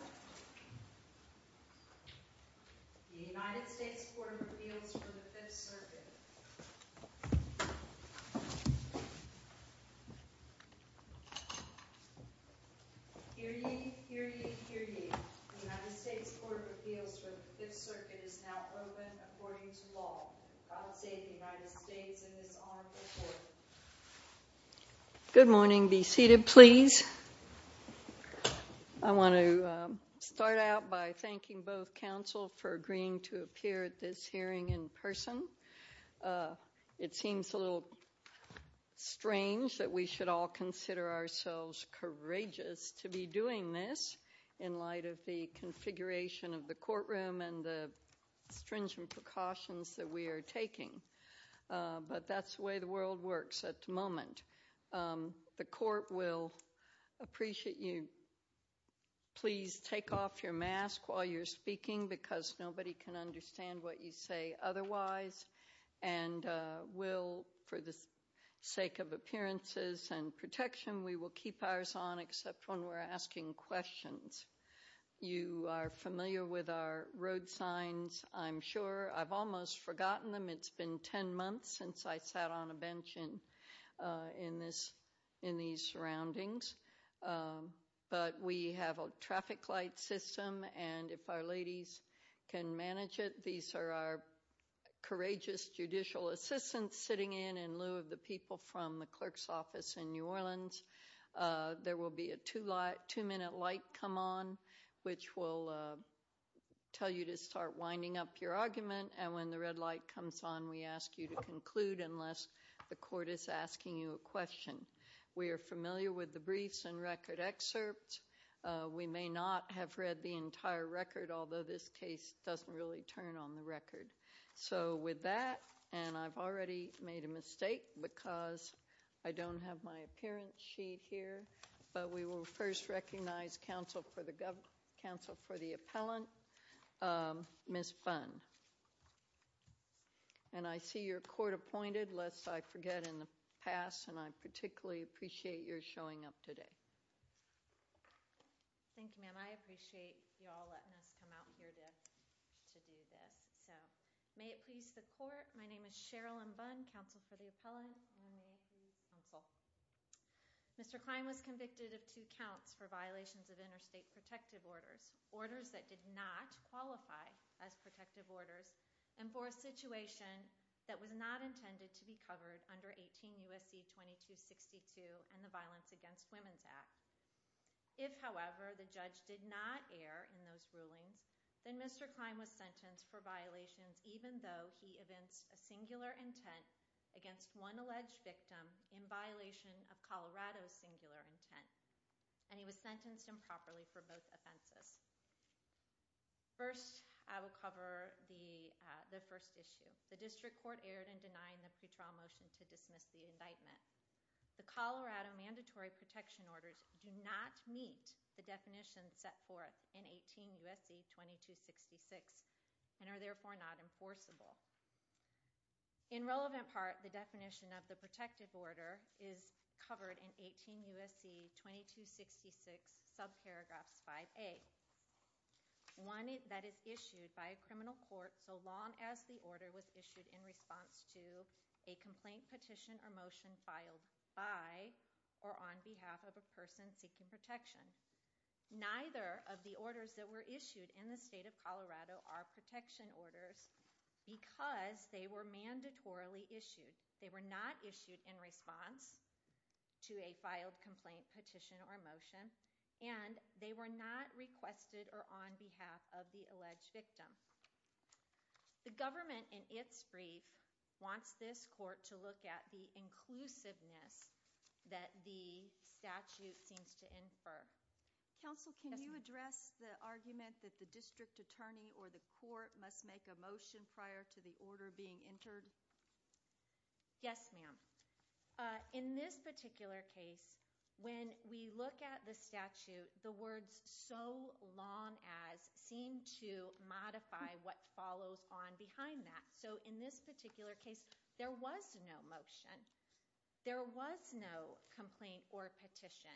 The United States Court of Appeals for the Fifth Circuit is now open according to law. Good morning. Be seated, please. I want to start out by thanking both counsel for agreeing to appear at this hearing in person. It seems a little strange that we should all consider ourselves courageous to be doing this in light of the configuration of the courtroom and the stringent precautions that we are taking, but that's the way the world works at the moment. The court will appreciate you. Please take off your mask while you're speaking because nobody can understand what you say otherwise. And we'll, for the sake of appearances and protection, we will keep ours on except when we're asking questions. You are familiar with our road signs, I'm sure. I've almost forgotten them. It's been 10 months since I sat on a bench in these surroundings. But we have a traffic light system, and if our ladies can manage it, these are our courageous judicial assistants sitting in in lieu of the people from the clerk's office in New Orleans. There will be a two-minute light come on, which will tell you to start winding up your argument. And when the red light comes on, we ask you to conclude unless the court is asking you a question. We are familiar with the briefs and record excerpts. We may not have read the entire record, although this case doesn't really turn on the record. So with that, and I've already made a mistake because I don't have my appearance sheet here, but we will first recognize counsel for the appellant, Ms. Bunn. And I see you're court-appointed, lest I forget in the past, and I particularly appreciate your showing up today. Thank you, ma'am. I appreciate you all letting us come out here to do this. So may it please the court, my name is Cheryl M. Bunn, counsel for the appellant. Mr. Klein was convicted of two counts for violations of interstate protective orders, orders that did not qualify as protective orders, and for a situation that was not intended to be covered under 18 U.S.C. 2262 and the Violence Against Women's Act. If, however, the judge did not err in those rulings, then Mr. Klein was sentenced for violations even though he evinced a singular intent against one alleged victim in violation of Colorado's singular intent. And he was sentenced improperly for both offenses. First, I will cover the first issue. The district court erred in denying the pre-trial motion to dismiss the indictment. The Colorado mandatory protection orders do not meet the definitions set forth in 18 U.S.C. 2266, and are therefore not enforceable. In relevant part, the definition of the protective order is covered in 18 U.S.C. 2266, subparagraphs 5A. One that is issued by a criminal court so long as the order was issued in response to a complaint, petition, or motion filed by or on behalf of a person seeking protection. Neither of the orders that were issued in the state of Colorado are protection orders because they were mandatorily issued. They were not issued in response to a filed complaint, petition, or motion, and they were not requested or on behalf of the alleged victim. The government, in its brief, wants this court to look at the inclusiveness that the statute seems to infer. Counsel, can you address the argument that the district attorney or the court must make a motion prior to the order being entered? Yes, ma'am. In this particular case, when we look at the statute, the words, so long as, seem to modify what follows on behind that. So in this particular case, there was no motion. There was no complaint or petition.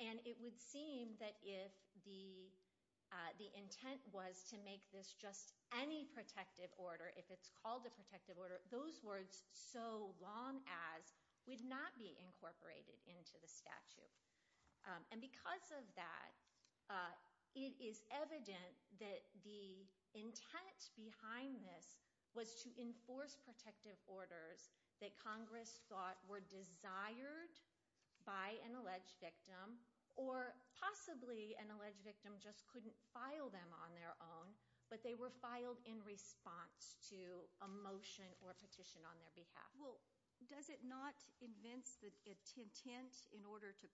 And it would seem that if the intent was to make this just any protective order, if it's called a protective order, those words, so long as, would not be incorporated into the statute. And because of that, it is evident that the intent behind this was to enforce protective orders that Congress thought were desired by an alleged victim, or possibly an alleged victim just couldn't file them on their own, but they were filed in response to a motion or a petition on their behalf. Well, does it not convince the intent in order to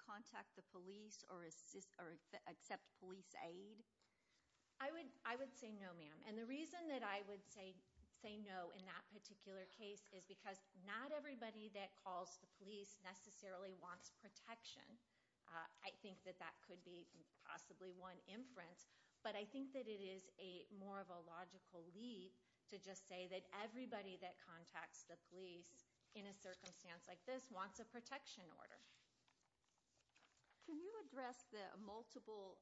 contact the police or accept police aid? I would say no, ma'am. And the reason that I would say no in that particular case is because not everybody that calls the police necessarily wants protection. I think that that could be possibly one inference. But I think that it is more of a logical leap to just say that everybody that contacts the police in a circumstance like this wants a protection order. Can you address the multiple,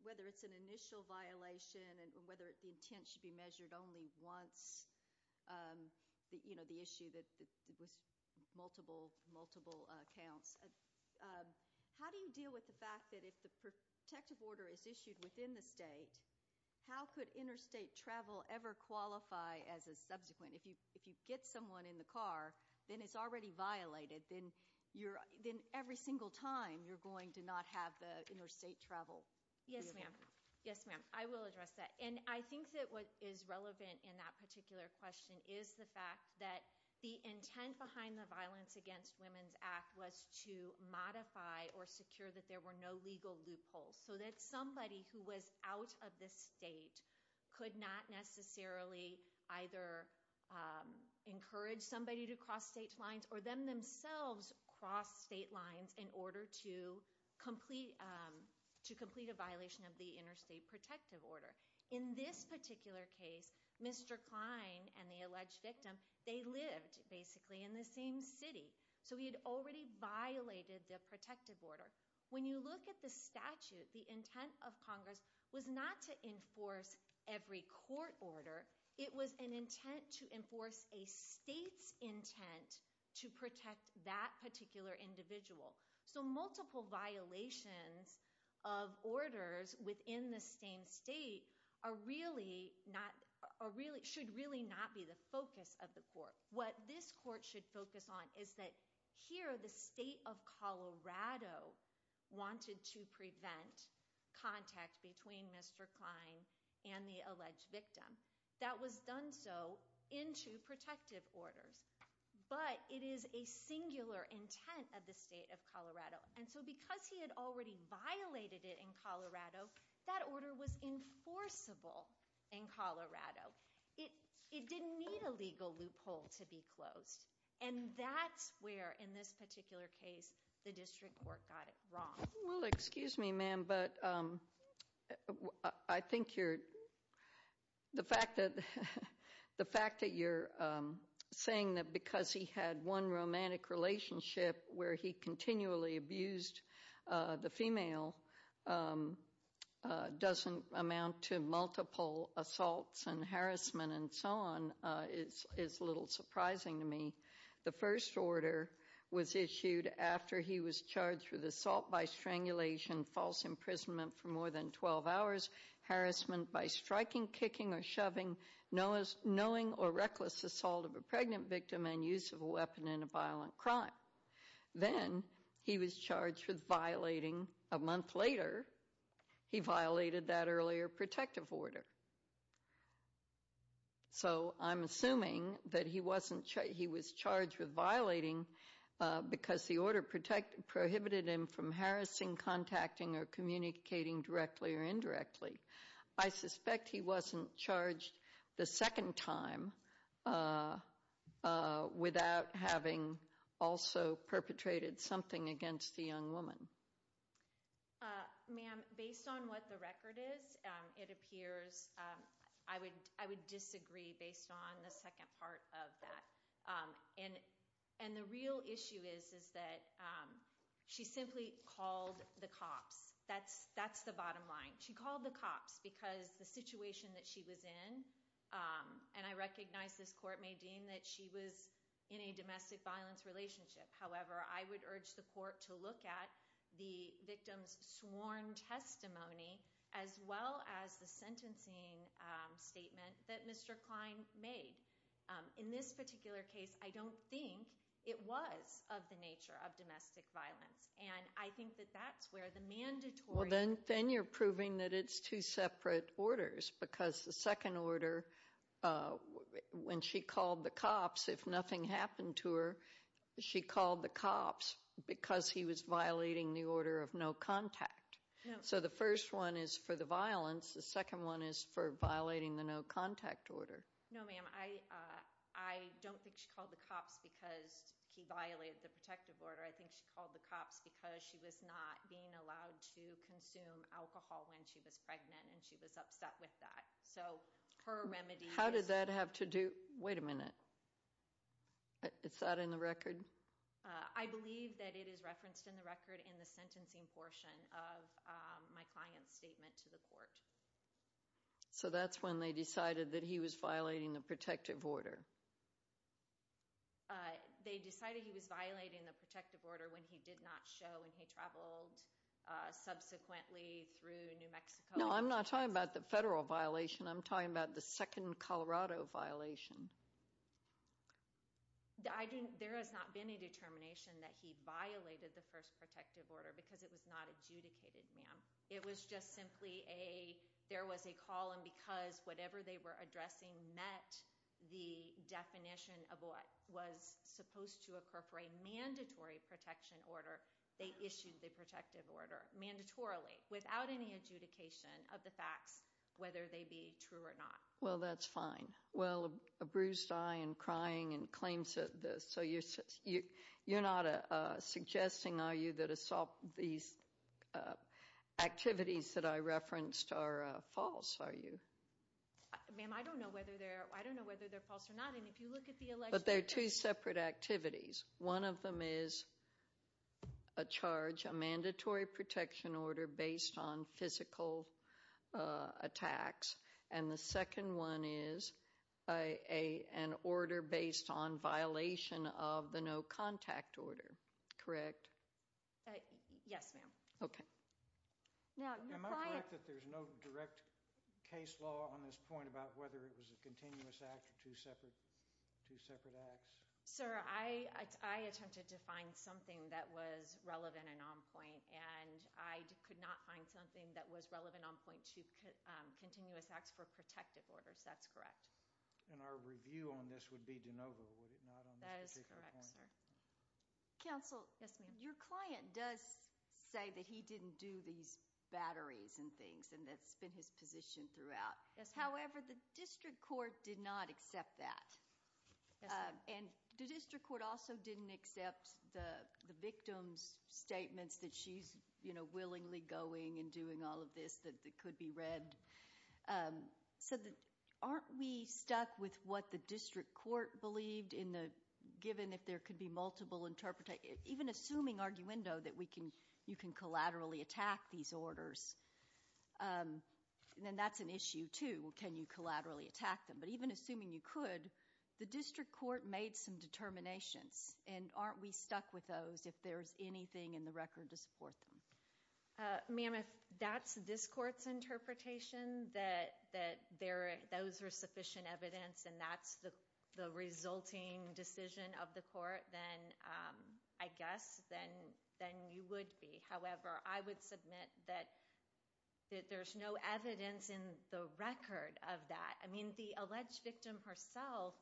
whether it's an initial violation and whether the intent should be measured only once, you know, the issue that multiple, multiple counts. How do you deal with the fact that if the protective order is issued within the state, how could interstate travel ever qualify as a subsequent? If you get someone in the car, then it's already violated. Then every single time you're going to not have the interstate travel. Yes, ma'am. Yes, ma'am. I will address that. And I think that what is relevant in that particular question is the fact that the intent behind the Violence Against Women's Act was to modify or secure that there were no legal loopholes so that somebody who was out of the state could not necessarily either encourage somebody to cross state lines or them themselves cross state lines in order to complete a violation of the interstate protective order. In this particular case, Mr. Klein and the alleged victim, they lived basically in the same city. So he had already violated the protective order. When you look at the statute, the intent of Congress was not to enforce every court order. It was an intent to enforce a state's intent to protect that particular individual. So multiple violations of orders within the same state should really not be the focus of the court. What this court should focus on is that here the state of Colorado wanted to prevent contact between Mr. Klein and the alleged victim. That was done so into protective orders. But it is a singular intent of the state of Colorado. And so because he had already violated it in Colorado, that order was enforceable in Colorado. It didn't need a legal loophole to be closed. And that's where in this particular case the district court got it wrong. Well, excuse me, ma'am, but I think the fact that you're saying that because he had one romantic relationship where he continually abused the female doesn't amount to multiple assaults and harassment and so on is a little surprising to me. The first order was issued after he was charged with assault by strangulation, false imprisonment for more than 12 hours, harassment by striking, kicking, or shoving, knowing or reckless assault of a pregnant victim, and use of a weapon in a violent crime. Then he was charged with violating, a month later, he violated that earlier protective order. So I'm assuming that he was charged with violating because the order prohibited him from harassing, contacting, or communicating directly or indirectly. I suspect he wasn't charged the second time without having also perpetrated something against the young woman. Ma'am, based on what the record is, it appears I would disagree based on the second part of that. And the real issue is that she simply called the cops. That's the bottom line. She called the cops because the situation that she was in, and I recognize this court may deem that she was in a domestic violence relationship. However, I would urge the court to look at the victim's sworn testimony, as well as the sentencing statement that Mr. Klein made. In this particular case, I don't think it was of the nature of domestic violence. And I think that that's where the mandatory— Well, then you're proving that it's two separate orders. Because the second order, when she called the cops, if nothing happened to her, she called the cops because he was violating the order of no contact. So the first one is for the violence. The second one is for violating the no contact order. No, ma'am. I don't think she called the cops because he violated the protective order. I think she called the cops because she was not being allowed to consume alcohol when she was pregnant, and she was upset with that. How did that have to do—wait a minute. Is that in the record? I believe that it is referenced in the record in the sentencing portion of my client's statement to the court. So that's when they decided that he was violating the protective order. They decided he was violating the protective order when he did not show and he traveled subsequently through New Mexico. No, I'm not talking about the federal violation. I'm talking about the second Colorado violation. I think there has not been a determination that he violated the first protective order because it was not adjudicated, ma'am. It was just simply a—there was a call, and because whatever they were addressing met the definition of what was supposed to occur for a mandatory protection order, they issued the protective order, mandatorily, without any adjudication of the facts, whether they be true or not. Well, that's fine. Well, a bruised eye and crying and claims that— so you're not suggesting, are you, that these activities that I referenced are false, are you? Ma'am, I don't know whether they're false or not, and if you look at the election— But they're two separate activities. One of them is a charge, a mandatory protection order based on physical attacks, and the second one is an order based on violation of the no contact order, correct? Yes, ma'am. Okay. Am I correct that there's no direct case law on this point about whether it was a continuous act or two separate acts? Sir, I attempted to find something that was relevant and on point, and I could not find something that was relevant on point to continuous acts for protective orders. That's correct. And our review on this would be de novo, would it not? That is correct, sir. Counsel? Yes, ma'am. Your client does say that he didn't do these batteries and things, and that's been his position throughout. Yes, ma'am. However, the district court did not accept that. Yes, ma'am. And the district court also didn't accept the victim's statements that she's, you know, willingly going and doing all of this that could be read. So aren't we stuck with what the district court believed in the given, if there could be multiple interpretations, even assuming arguendo that you can collaterally attack these orders? And that's an issue, too. Can you collaterally attack them? But even assuming you could, the district court made some determinations, and aren't we stuck with those if there's anything in the record to support them? Ma'am, if that's this court's interpretation, that those are sufficient evidence and that's the resulting decision of the court, then I guess then you would be. However, I would submit that there's no evidence in the record of that. I mean, the alleged victim herself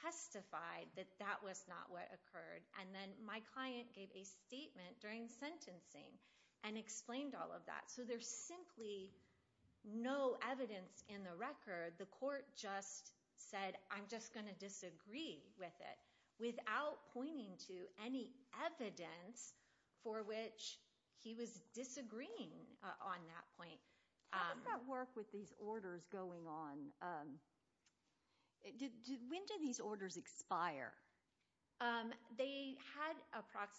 testified that that was not what occurred, and then my client gave a statement during sentencing and explained all of that. So there's simply no evidence in the record. The court just said, I'm just going to disagree with it, without pointing to any evidence for which he was disagreeing on that point. How did that work with these orders going on? When did these orders expire?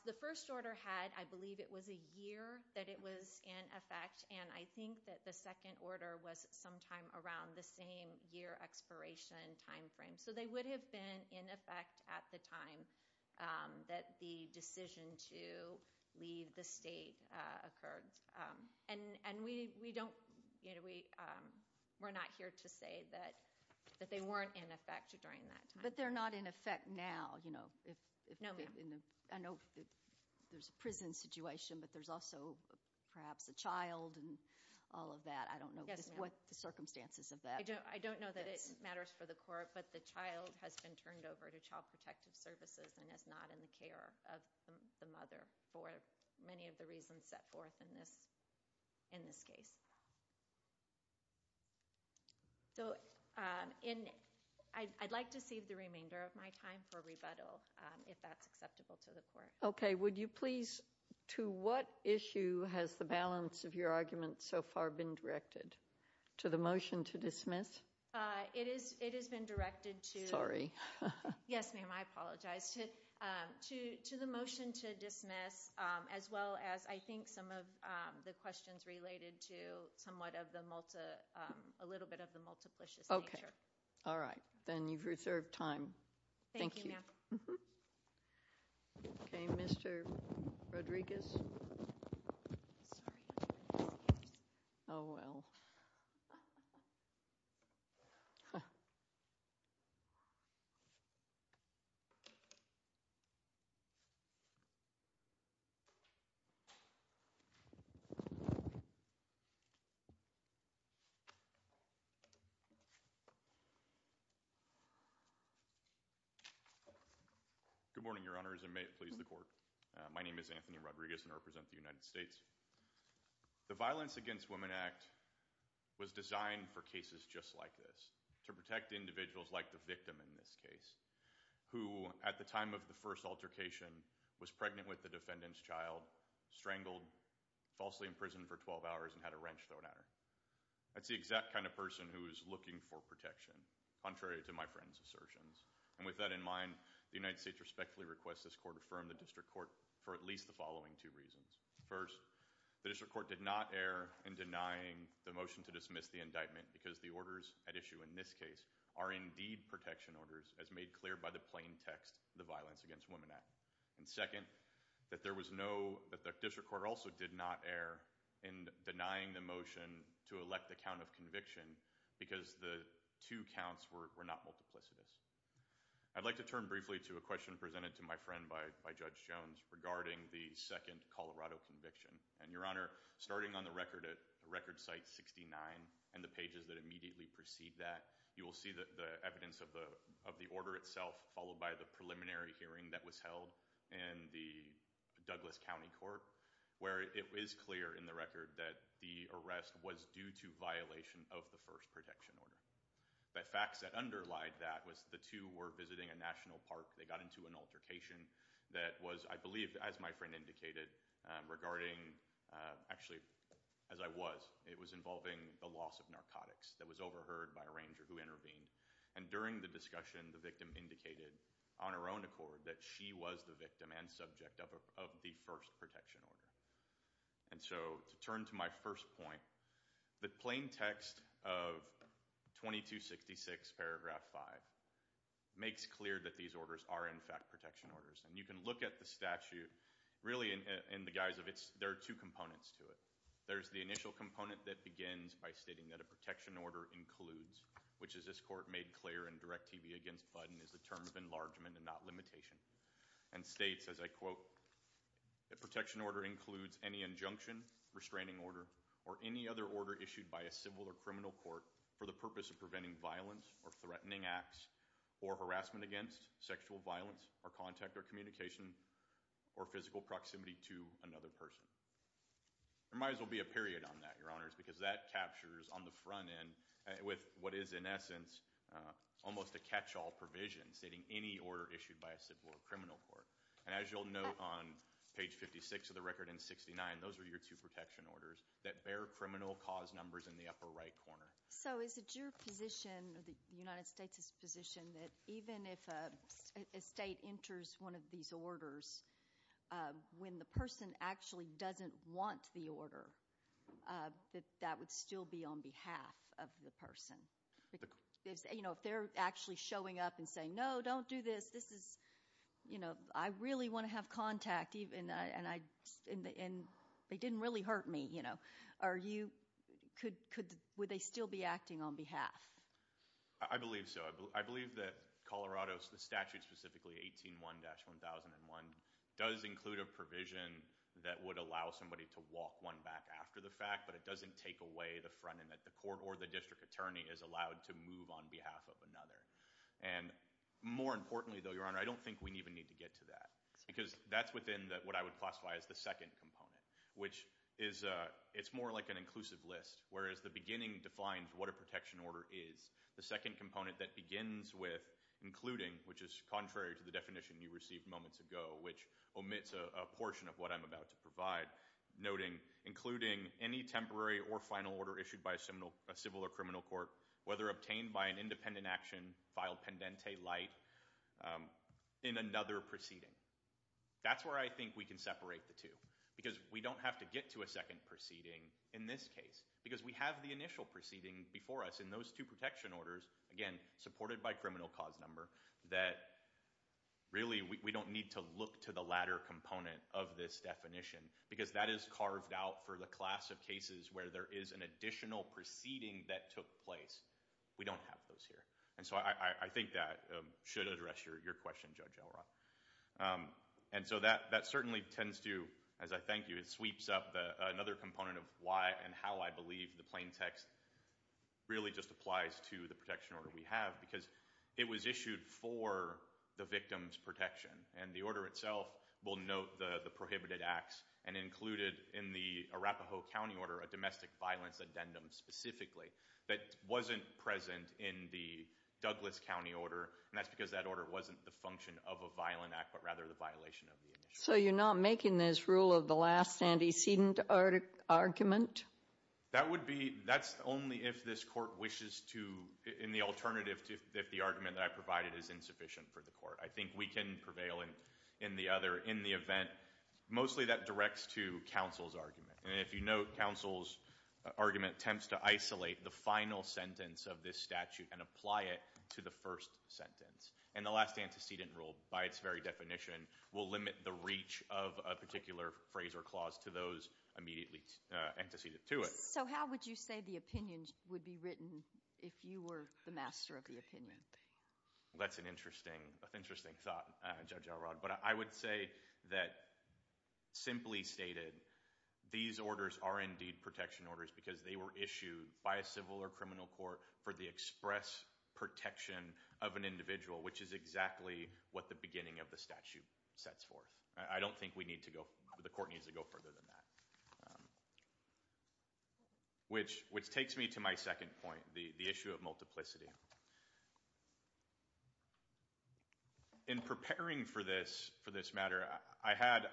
The first order had, I believe it was a year that it was in effect, and I think that the second order was sometime around the same year expiration time frame. So they would have been in effect at the time that the decision to leave the state occurred. We're not here to say that they weren't in effect during that time. But they're not in effect now. No, ma'am. I know there's a prison situation, but there's also perhaps a child and all of that. I don't know what the circumstances of that are. I don't know that it matters for the court, but the child has been turned over to Child Protective Services and is not in the care of the mother for many of the reasons set forth in this case. So I'd like to save the remainder of my time for rebuttal, if that's acceptable to the court. Okay. Would you please, to what issue has the balance of your argument so far been directed? To the motion to dismiss? It has been directed to— Sorry. Yes, ma'am. I apologize. To the motion to dismiss, as well as I think some of the questions related to somewhat of the—a little bit of the multiplicious nature. Okay. All right. Then you've reserved time. Thank you. Thank you, ma'am. Okay. Mr. Rodriguez? Sorry. Oh, well. Good morning, Your Honors, and may it please the court. My name is Anthony Rodriguez, and I represent the United States. The Violence Against Women Act was designed for cases just like this, to protect individuals like the victim in this case, who at the time of the first altercation was pregnant with the defendant's child, strangled, falsely imprisoned for 12 hours, and had a wrench thrown at her. That's the exact kind of person who is looking for protection, contrary to my friend's assertions. And with that in mind, the United States respectfully requests this court affirm the district court for at least the following two reasons. First, the district court did not err in denying the motion to dismiss the indictment because the orders at issue in this case are indeed protection orders, as made clear by the plain text of the Violence Against Women Act. And second, that there was no—that the district court also did not err in denying the motion to elect the count of conviction because the two counts were not multiplicitous. I'd like to turn briefly to a question presented to my friend by Judge Jones regarding the second Colorado conviction. And, Your Honor, starting on the record at Record Site 69 and the pages that immediately precede that, you will see the evidence of the order itself, followed by the preliminary hearing that was held in the Douglas County Court, where it is clear in the record that the arrest was due to violation of the first protection order. The facts that underlie that was the two were visiting a national park. They got into an altercation that was, I believe, as my friend indicated, regarding—actually, as I was, it was involving the loss of narcotics that was overheard by a ranger who intervened. And during the discussion, the victim indicated on her own accord that she was the victim and subject of the first protection order. And so, to turn to my first point, the plain text of 2266, paragraph 5, makes clear that these orders are, in fact, protection orders. And you can look at the statute, really, in the guise of it's—there are two components to it. There's the initial component that begins by stating that a protection order includes, which as this court made clear in Direct TV against Budden is the term of enlargement and not limitation, and states, as I quote, that protection order includes any injunction, restraining order, or any other order issued by a civil or criminal court for the purpose of preventing violence or threatening acts or harassment against sexual violence or contact or communication or physical proximity to another person. There might as well be a period on that, Your Honors, because that captures on the front end, with what is, in essence, almost a catch-all provision, stating any order issued by a civil or criminal court. And as you'll note on page 56 of the record and 69, those are your two protection orders, that bear criminal cause numbers in the upper right corner. So is it your position, the United States' position, that even if a state enters one of these orders, when the person actually doesn't want the order, that that would still be on behalf of the person? You know, if they're actually showing up and saying, no, don't do this, this is—you know, I really want to have contact, and they didn't really hurt me, you know. Are you—would they still be acting on behalf? I believe so. I believe that Colorado's statute, specifically 18.1-1001, does include a provision that would allow somebody to walk one back after the fact, but it doesn't take away the front end that the court or the district attorney is allowed to move on behalf of another. And more importantly, though, Your Honor, I don't think we even need to get to that, because that's within what I would classify as the second component, which is—it's more like an inclusive list, whereas the beginning defines what a protection order is. The second component that begins with including, which is contrary to the definition you received moments ago, which omits a portion of what I'm about to provide, noting, including any temporary or final order issued by a civil or criminal court, whether obtained by an independent action, file pendente light, in another proceeding. That's where I think we can separate the two, because we don't have to get to a second proceeding in this case, because we have the initial proceeding before us, and those two protection orders, again, supported by criminal cause number, that really, we don't need to look to the latter component of this definition, because that is carved out for the class of cases where there is an additional proceeding that took place. We don't have those here, and so I think that should address your question, Judge Elrod. And so that certainly tends to, as I thank you, it sweeps up another component of why and how I believe the plain text really just applies to the protection order we have, because it was issued for the victim's protection, and the order itself will note the prohibited acts, and included in the Arapahoe County order a domestic violence addendum specifically that wasn't present in the Douglas County order, and that's because that order wasn't the function of a violent act, but rather the violation of the initiative. So you're not making this rule of the last antecedent argument? That would be, that's only if this court wishes to, in the alternative, if the argument that I provided is insufficient for the court. I think we can prevail in the other, in the event, mostly that directs to counsel's argument, and if you note, counsel's argument attempts to isolate the final sentence of this statute and apply it to the first sentence, and the last antecedent rule, by its very definition, will limit the reach of a particular phrase or clause to those immediately antecedent to it. So how would you say the opinion would be written if you were the master of the opinion? That's an interesting thought, Judge Alrod. But I would say that, simply stated, these orders are indeed protection orders, because they were issued by a civil or criminal court for the express protection of an individual, which is exactly what the beginning of the statute sets for. I don't think we need to go, the court needs to go further than that. Which takes me to my second point, the issue of multiplicity. In preparing for this matter, I had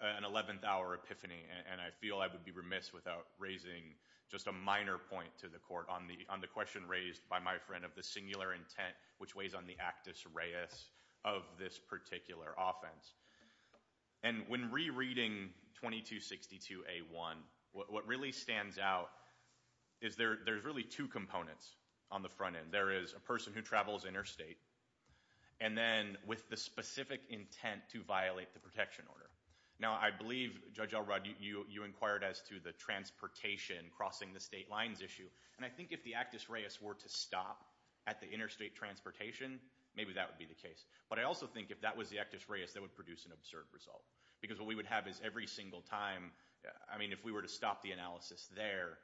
an 11th hour epiphany, and I feel I would be remiss without raising just a minor point to the court on the question raised by my friend of the singular intent, which weighs on the actus reus of this particular offense. And when rereading 2262A1, what really stands out is there's really two components on the front end. There is a person who travels interstate, and then with the specific intent to violate the protection order. Now, I believe, Judge Alrod, you inquired as to the transportation crossing the state lines issue, and I think if the actus reus were to stop at the interstate transportation, maybe that would be the case. But I also think if that was the actus reus, that would produce an absurd result. Because what we would have is every single time, I mean, if we were to stop the analysis there,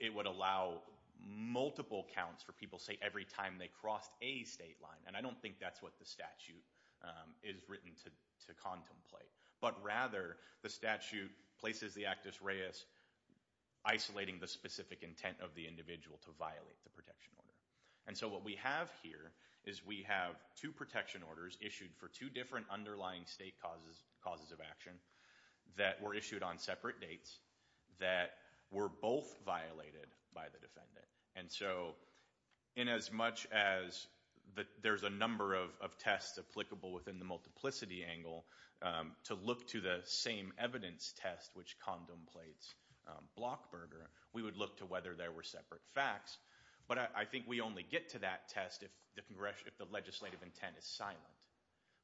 it would allow multiple counts for people, say, every time they crossed a state line. And I don't think that's what the statute is written to contemplate. But rather, the statute places the actus reus isolating the specific intent of the individual to violate the protection order. And so what we have here is we have two protection orders issued for two different underlying state causes of action that were issued on separate dates that were both violated by the defendant. And so in as much as there's a number of tests applicable within the multiplicity angle, to look to the same evidence test which contemplates blockburger, we would look to whether there were separate facts. But I think we only get to that test if the legislative intent is silent.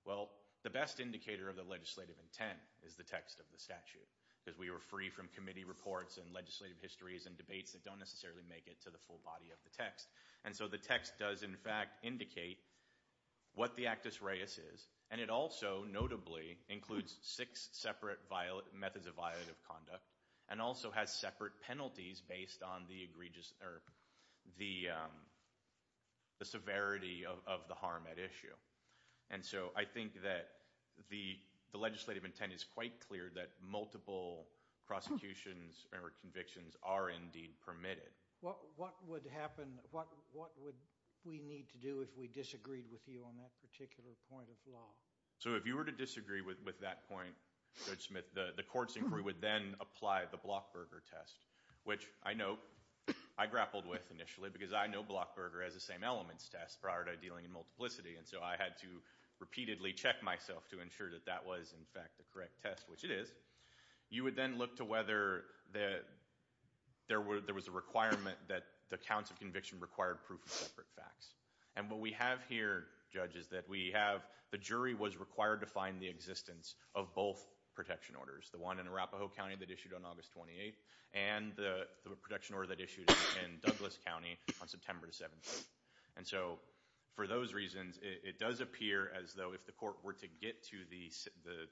Well, the best indicator of the legislative intent is the text of the statute because we are free from committee reports and legislative histories and debates that don't necessarily make it to the full body of the text. And so the text does, in fact, indicate what the actus reus is. And it also notably includes six separate methods of violative conduct and also has separate penalties based on the severity of the harm at issue. And so I think that the legislative intent is quite clear that multiple prosecutions or convictions are indeed permitted. What would we need to do if we disagreed with you on that particular point of law? So if you were to disagree with that point, Judge Smith, the court's inquiry would then apply the blockburger test, which I know I grappled with initially because I know blockburger has the same elements test prior to dealing in multiplicity. And so I had to repeatedly check myself to ensure that that was, in fact, the correct test, which it is. You would then look to whether there was a requirement that the counts of conviction required proof of separate facts. And what we have here, Judge, is that we have the jury was required to find the existence of both protection orders, the one in Arapahoe County that issued on August 28th and the protection order that issued in Douglas County on September 17th. And so for those reasons, it does appear as though if the court were to get to the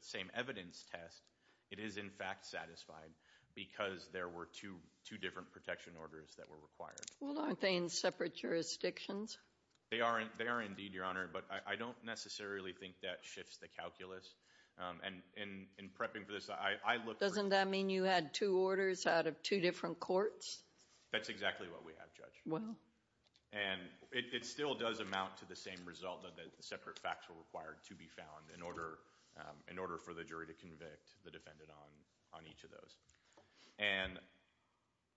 same evidence test, it is, in fact, satisfied because there were two different protection orders that were required. Well, aren't they in separate jurisdictions? They are indeed, Your Honor, but I don't necessarily think that shifts the calculus. And in prepping for this, I look for- Doesn't that mean you had two orders out of two different courts? That's exactly what we have, Judge. And it still does amount to the same result that separate facts were required to be found in order for the jury to convict the defendant on each of those. And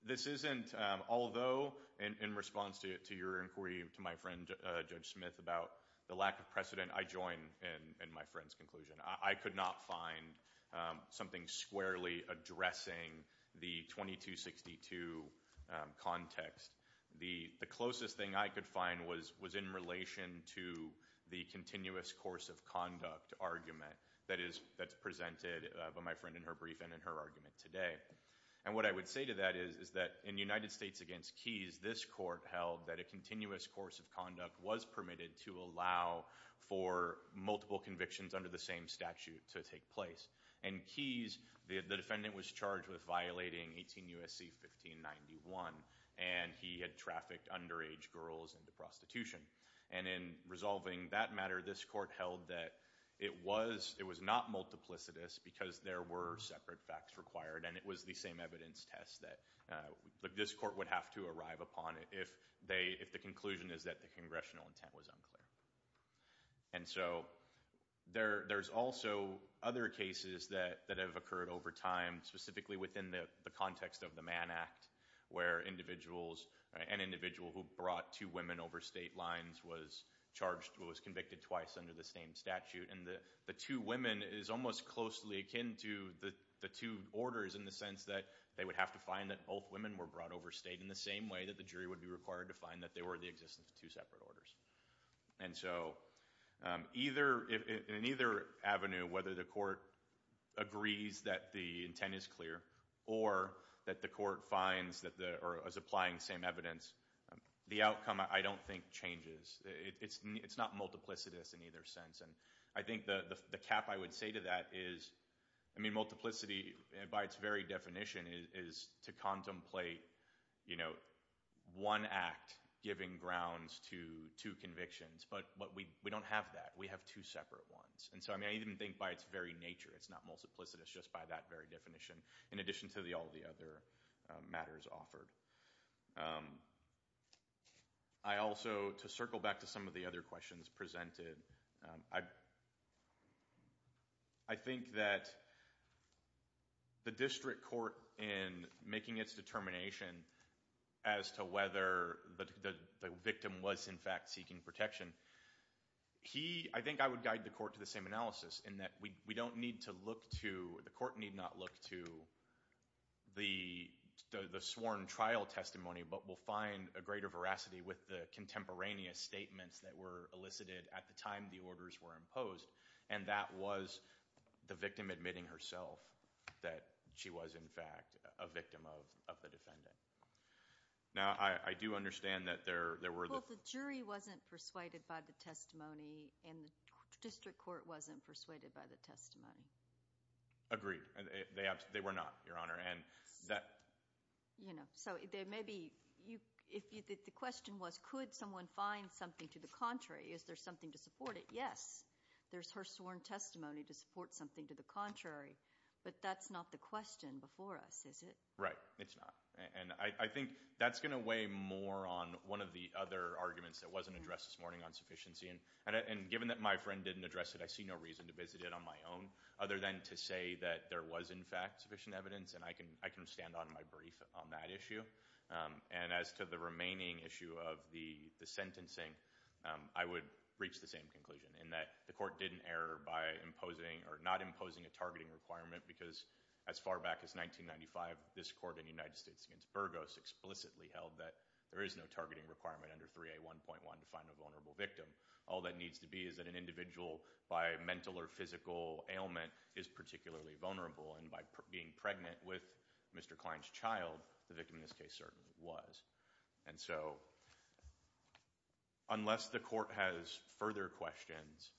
this isn't, although in response to your inquiry to my friend Judge Smith about the lack of precedent, I join in my friend's conclusion. I could not find something squarely addressing the 2262 context. The closest thing I could find was in relation to the continuous course of conduct argument that's presented by my friend in her brief and in her argument today. And what I would say to that is that in the United States against Keyes, this court held that a continuous course of conduct was permitted to allow for multiple convictions under the same statute to take place. In Keyes, the defendant was charged with violating 18 U.S.C. 1591, and he had trafficked underage girls into prostitution. And in resolving that matter, this court held that it was not multiplicitous because there were separate facts required, and it was the same evidence test that this court would have to arrive upon if the conclusion is that the congressional intent was unclear. And so there's also other cases that have occurred over time, specifically within the context of the Mann Act, where an individual who brought two women over state lines was charged or was convicted twice under the same statute. And the two women is almost closely akin to the two orders in the sense that they would have to find that both women were brought over state in the same way that the jury would be required to find that they were the existence of two separate orders. And so in either avenue, whether the court agrees that the intent is clear or that the court finds or is applying the same evidence, the outcome, I don't think, changes. It's not multiplicitous in either sense. And I think the cap I would say to that is, I mean, multiplicity by its very definition is to contemplate, you know, one act giving grounds to two convictions. But we don't have that. We have two separate ones. And so, I mean, I even think by its very nature it's not multiplicitous just by that very definition in addition to all the other matters offered. I also, to circle back to some of the other questions presented, I think that the district court in making its determination as to whether the victim was in fact seeking protection, I think I would guide the court to the same analysis in that we don't need to look to, the court need not look to the sworn trial testimony, but we'll find a greater veracity with the contemporaneous statements that were elicited at the time the orders were imposed. And that was the victim admitting herself that she was in fact a victim of the defendant. Now, I do understand that there were the- Well, the jury wasn't persuaded by the testimony, and the district court wasn't persuaded by the testimony. Agreed. They were not, Your Honor. You know, so there may be – the question was could someone find something to the contrary? Is there something to support it? Yes, there's her sworn testimony to support something to the contrary. But that's not the question before us, is it? Right, it's not. And I think that's going to weigh more on one of the other arguments that wasn't addressed this morning on sufficiency. And given that my friend didn't address it, I see no reason to visit it on my own other than to say that there was, in fact, sufficient evidence. And I can stand on my brief on that issue. And as to the remaining issue of the sentencing, I would reach the same conclusion in that the court didn't err by imposing or not imposing a targeting requirement. Because as far back as 1995, this court in the United States against Burgos explicitly held that there is no targeting requirement under 3A1.1 to find a vulnerable victim. All that needs to be is that an individual, by mental or physical ailment, is particularly vulnerable. And by being pregnant with Mr. Klein's child, the victim in this case certainly was. And so unless the court has further questions,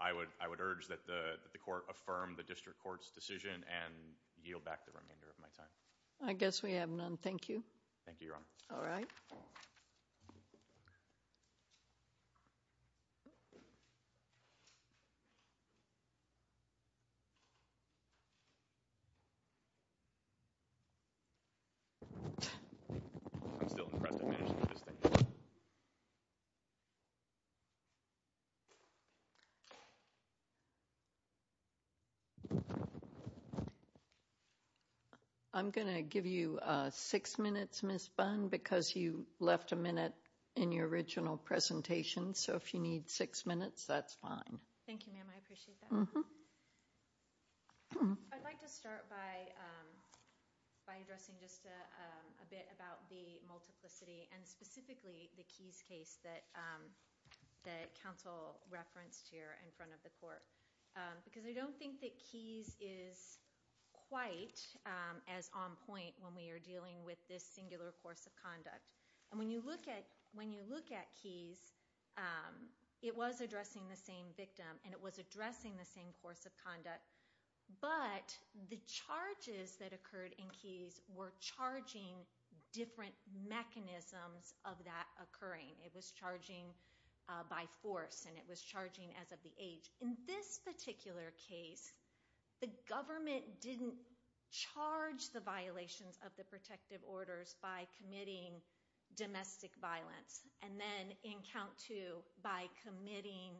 I would urge that the court affirm the district court's decision and yield back the remainder of my time. I guess we have none. Thank you. Thank you, Your Honor. All right. I'm going to give you six minutes, Ms. Bunn, because you left a minute in your original presentation. So if you need six minutes, that's fine. Thank you, ma'am. I appreciate that. I'd like to start by addressing just a bit about the multiplicity and specifically the Keyes case that counsel referenced here in front of the court. Because I don't think that Keyes is quite as on point when we are dealing with this singular course of conduct. And when you look at Keyes, it was addressing the same victim, and it was addressing the same course of conduct. But the charges that occurred in Keyes were charging different mechanisms of that occurring. It was charging by force, and it was charging as of the age. In this particular case, the government didn't charge the violations of the protective orders by committing domestic violence, and then in count two, by committing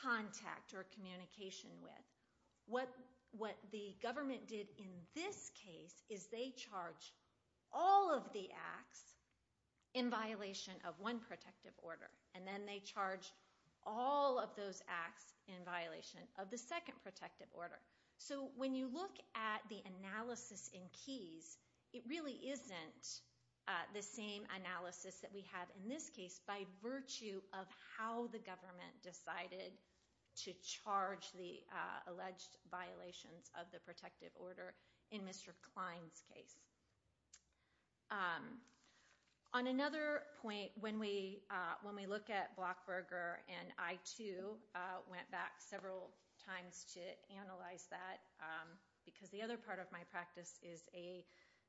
contact or communication with. What the government did in this case is they charged all of the acts in violation of one protective order. And then they charged all of those acts in violation of the second protective order. So when you look at the analysis in Keyes, it really isn't the same analysis that we have in this case by virtue of how the government decided to charge the alleged violations of the protective order in Mr. Klein's case. On another point, when we look at Blockberger, and I too went back several times to analyze that, because the other part of my practice is a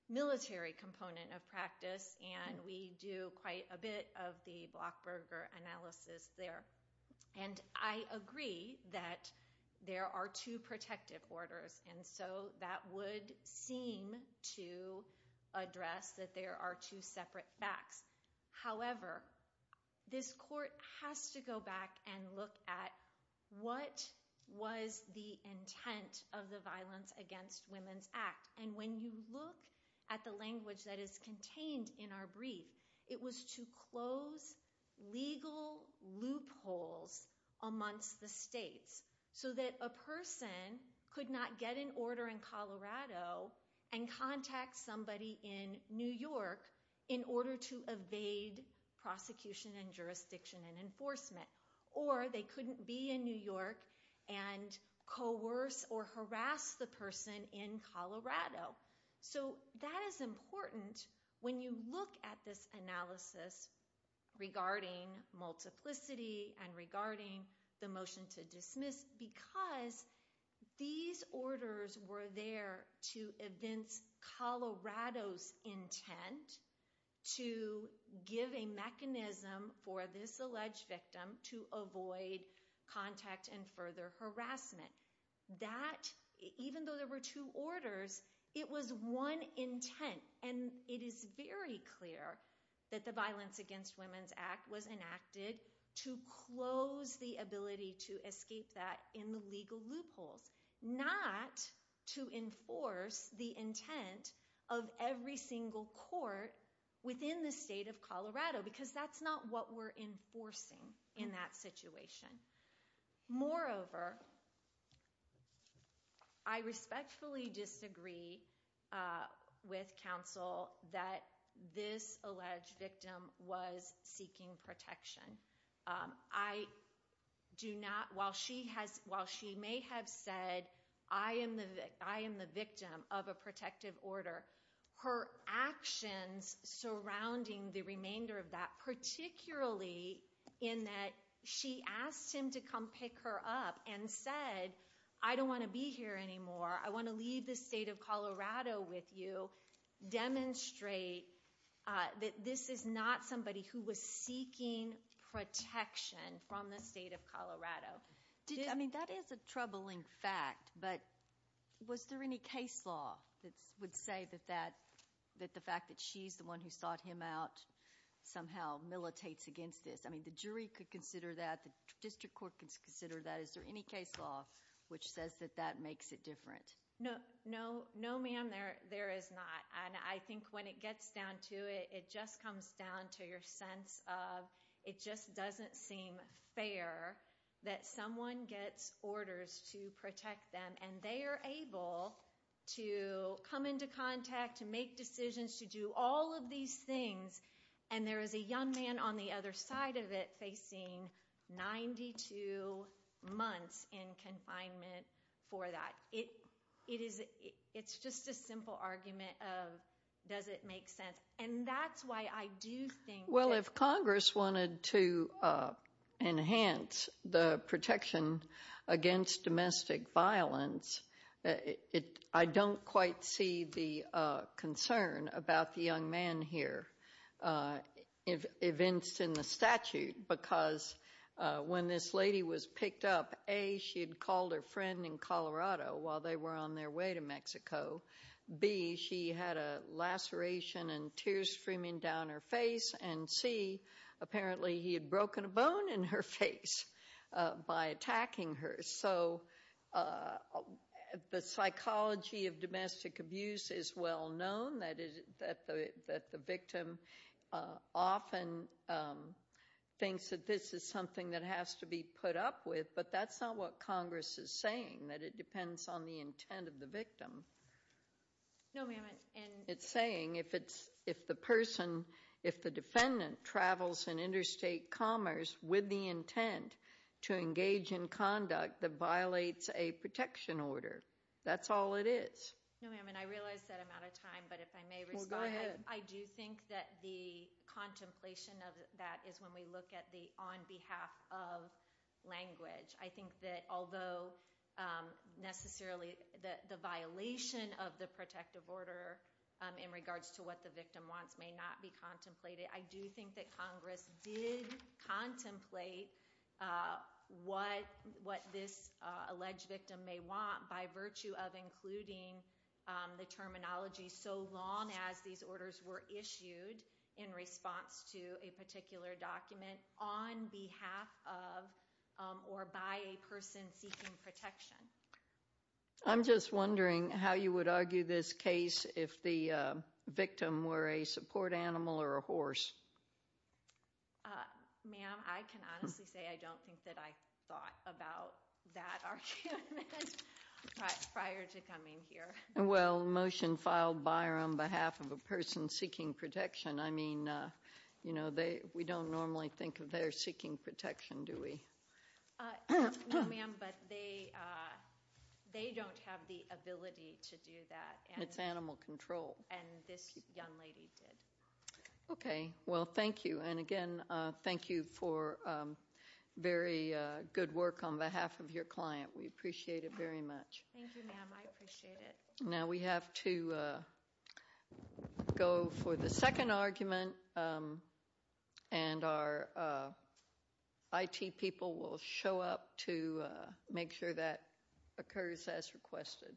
military component of practice, and we do quite a bit of the Blockberger analysis there. And I agree that there are two protective orders, and so that would seem to address that there are two separate backs. However, this court has to go back and look at what was the intent of the Violence Against Women's Act. And when you look at the language that is contained in our brief, it was to close legal loopholes amongst the states so that a person could not get an order in Colorado and contact somebody in New York in order to evade prosecution and jurisdiction and enforcement. Or they couldn't be in New York and coerce or harass the person in Colorado. So that is important when you look at this analysis regarding multiplicity and regarding the motion to dismiss, because these orders were there to evince Colorado's intent to give a mechanism for this alleged victim to avoid contact and further harassment. That, even though there were two orders, it was one intent. And it is very clear that the Violence Against Women's Act was enacted to close the ability to escape that in the legal loopholes, not to enforce the intent of every single court within the state of Colorado, because that's not what we're enforcing in that situation. Moreover, I respectfully disagree with counsel that this alleged victim was seeking protection. While she may have said, I am the victim of a protective order, her actions surrounding the remainder of that, particularly in that she asked him to come pick her up and said, I don't want to be here anymore. I want to leave the state of Colorado with you, demonstrate that this is not somebody who was seeking protection from the state of Colorado. I mean, that is a troubling fact. But was there any case law that would say that the fact that she's the one who sought him out somehow militates against this? I mean, the jury could consider that, the district court could consider that. Is there any case law which says that that makes it different? No, ma'am, there is not. And I think when it gets down to it, it just comes down to your sense of, it just doesn't seem fair that someone gets orders to protect them, and they are able to come into contact, to make decisions, to do all of these things, and there is a young man on the other side of it facing 92 months in confinement for that. It's just a simple argument of, does it make sense? And that's why I do think that— Well, if Congress wanted to enhance the protection against domestic violence, I don't quite see the concern about the young man here evinced in the statute, because when this lady was picked up, A, she had called her friend in Colorado while they were on their way to Mexico, B, she had a laceration and tears streaming down her face, and C, apparently he had broken a bone in her face by attacking her. So the psychology of domestic abuse is well known, that the victim often thinks that this is something that has to be put up with, but that's not what Congress is saying, that it depends on the intent of the victim. No, ma'am, and— It's saying if the person, if the defendant travels in interstate commerce with the intent to engage in conduct, that violates a protection order. That's all it is. No, ma'am, and I realize that I'm out of time, but if I may respond— Well, go ahead. I do think that the contemplation of that is when we look at the on behalf of language. I think that although necessarily the violation of the protective order in regards to what the victim wants may not be contemplated, I do think that Congress did contemplate what this alleged victim may want by virtue of including the terminology so long as these orders were issued in response to a particular document on behalf of or by a person seeking protection. I'm just wondering how you would argue this case if the victim were a support animal or a horse. Ma'am, I can honestly say I don't think that I thought about that argument prior to coming here. Well, motion filed by or on behalf of a person seeking protection, I mean, you know, we don't normally think of their seeking protection, do we? No, ma'am, but they don't have the ability to do that. It's animal control. And this young lady did. Okay. Well, thank you, and again, thank you for very good work on behalf of your client. We appreciate it very much. Thank you, ma'am. I appreciate it. Now we have to go for the second argument, and our IT people will show up to make sure that occurs as requested.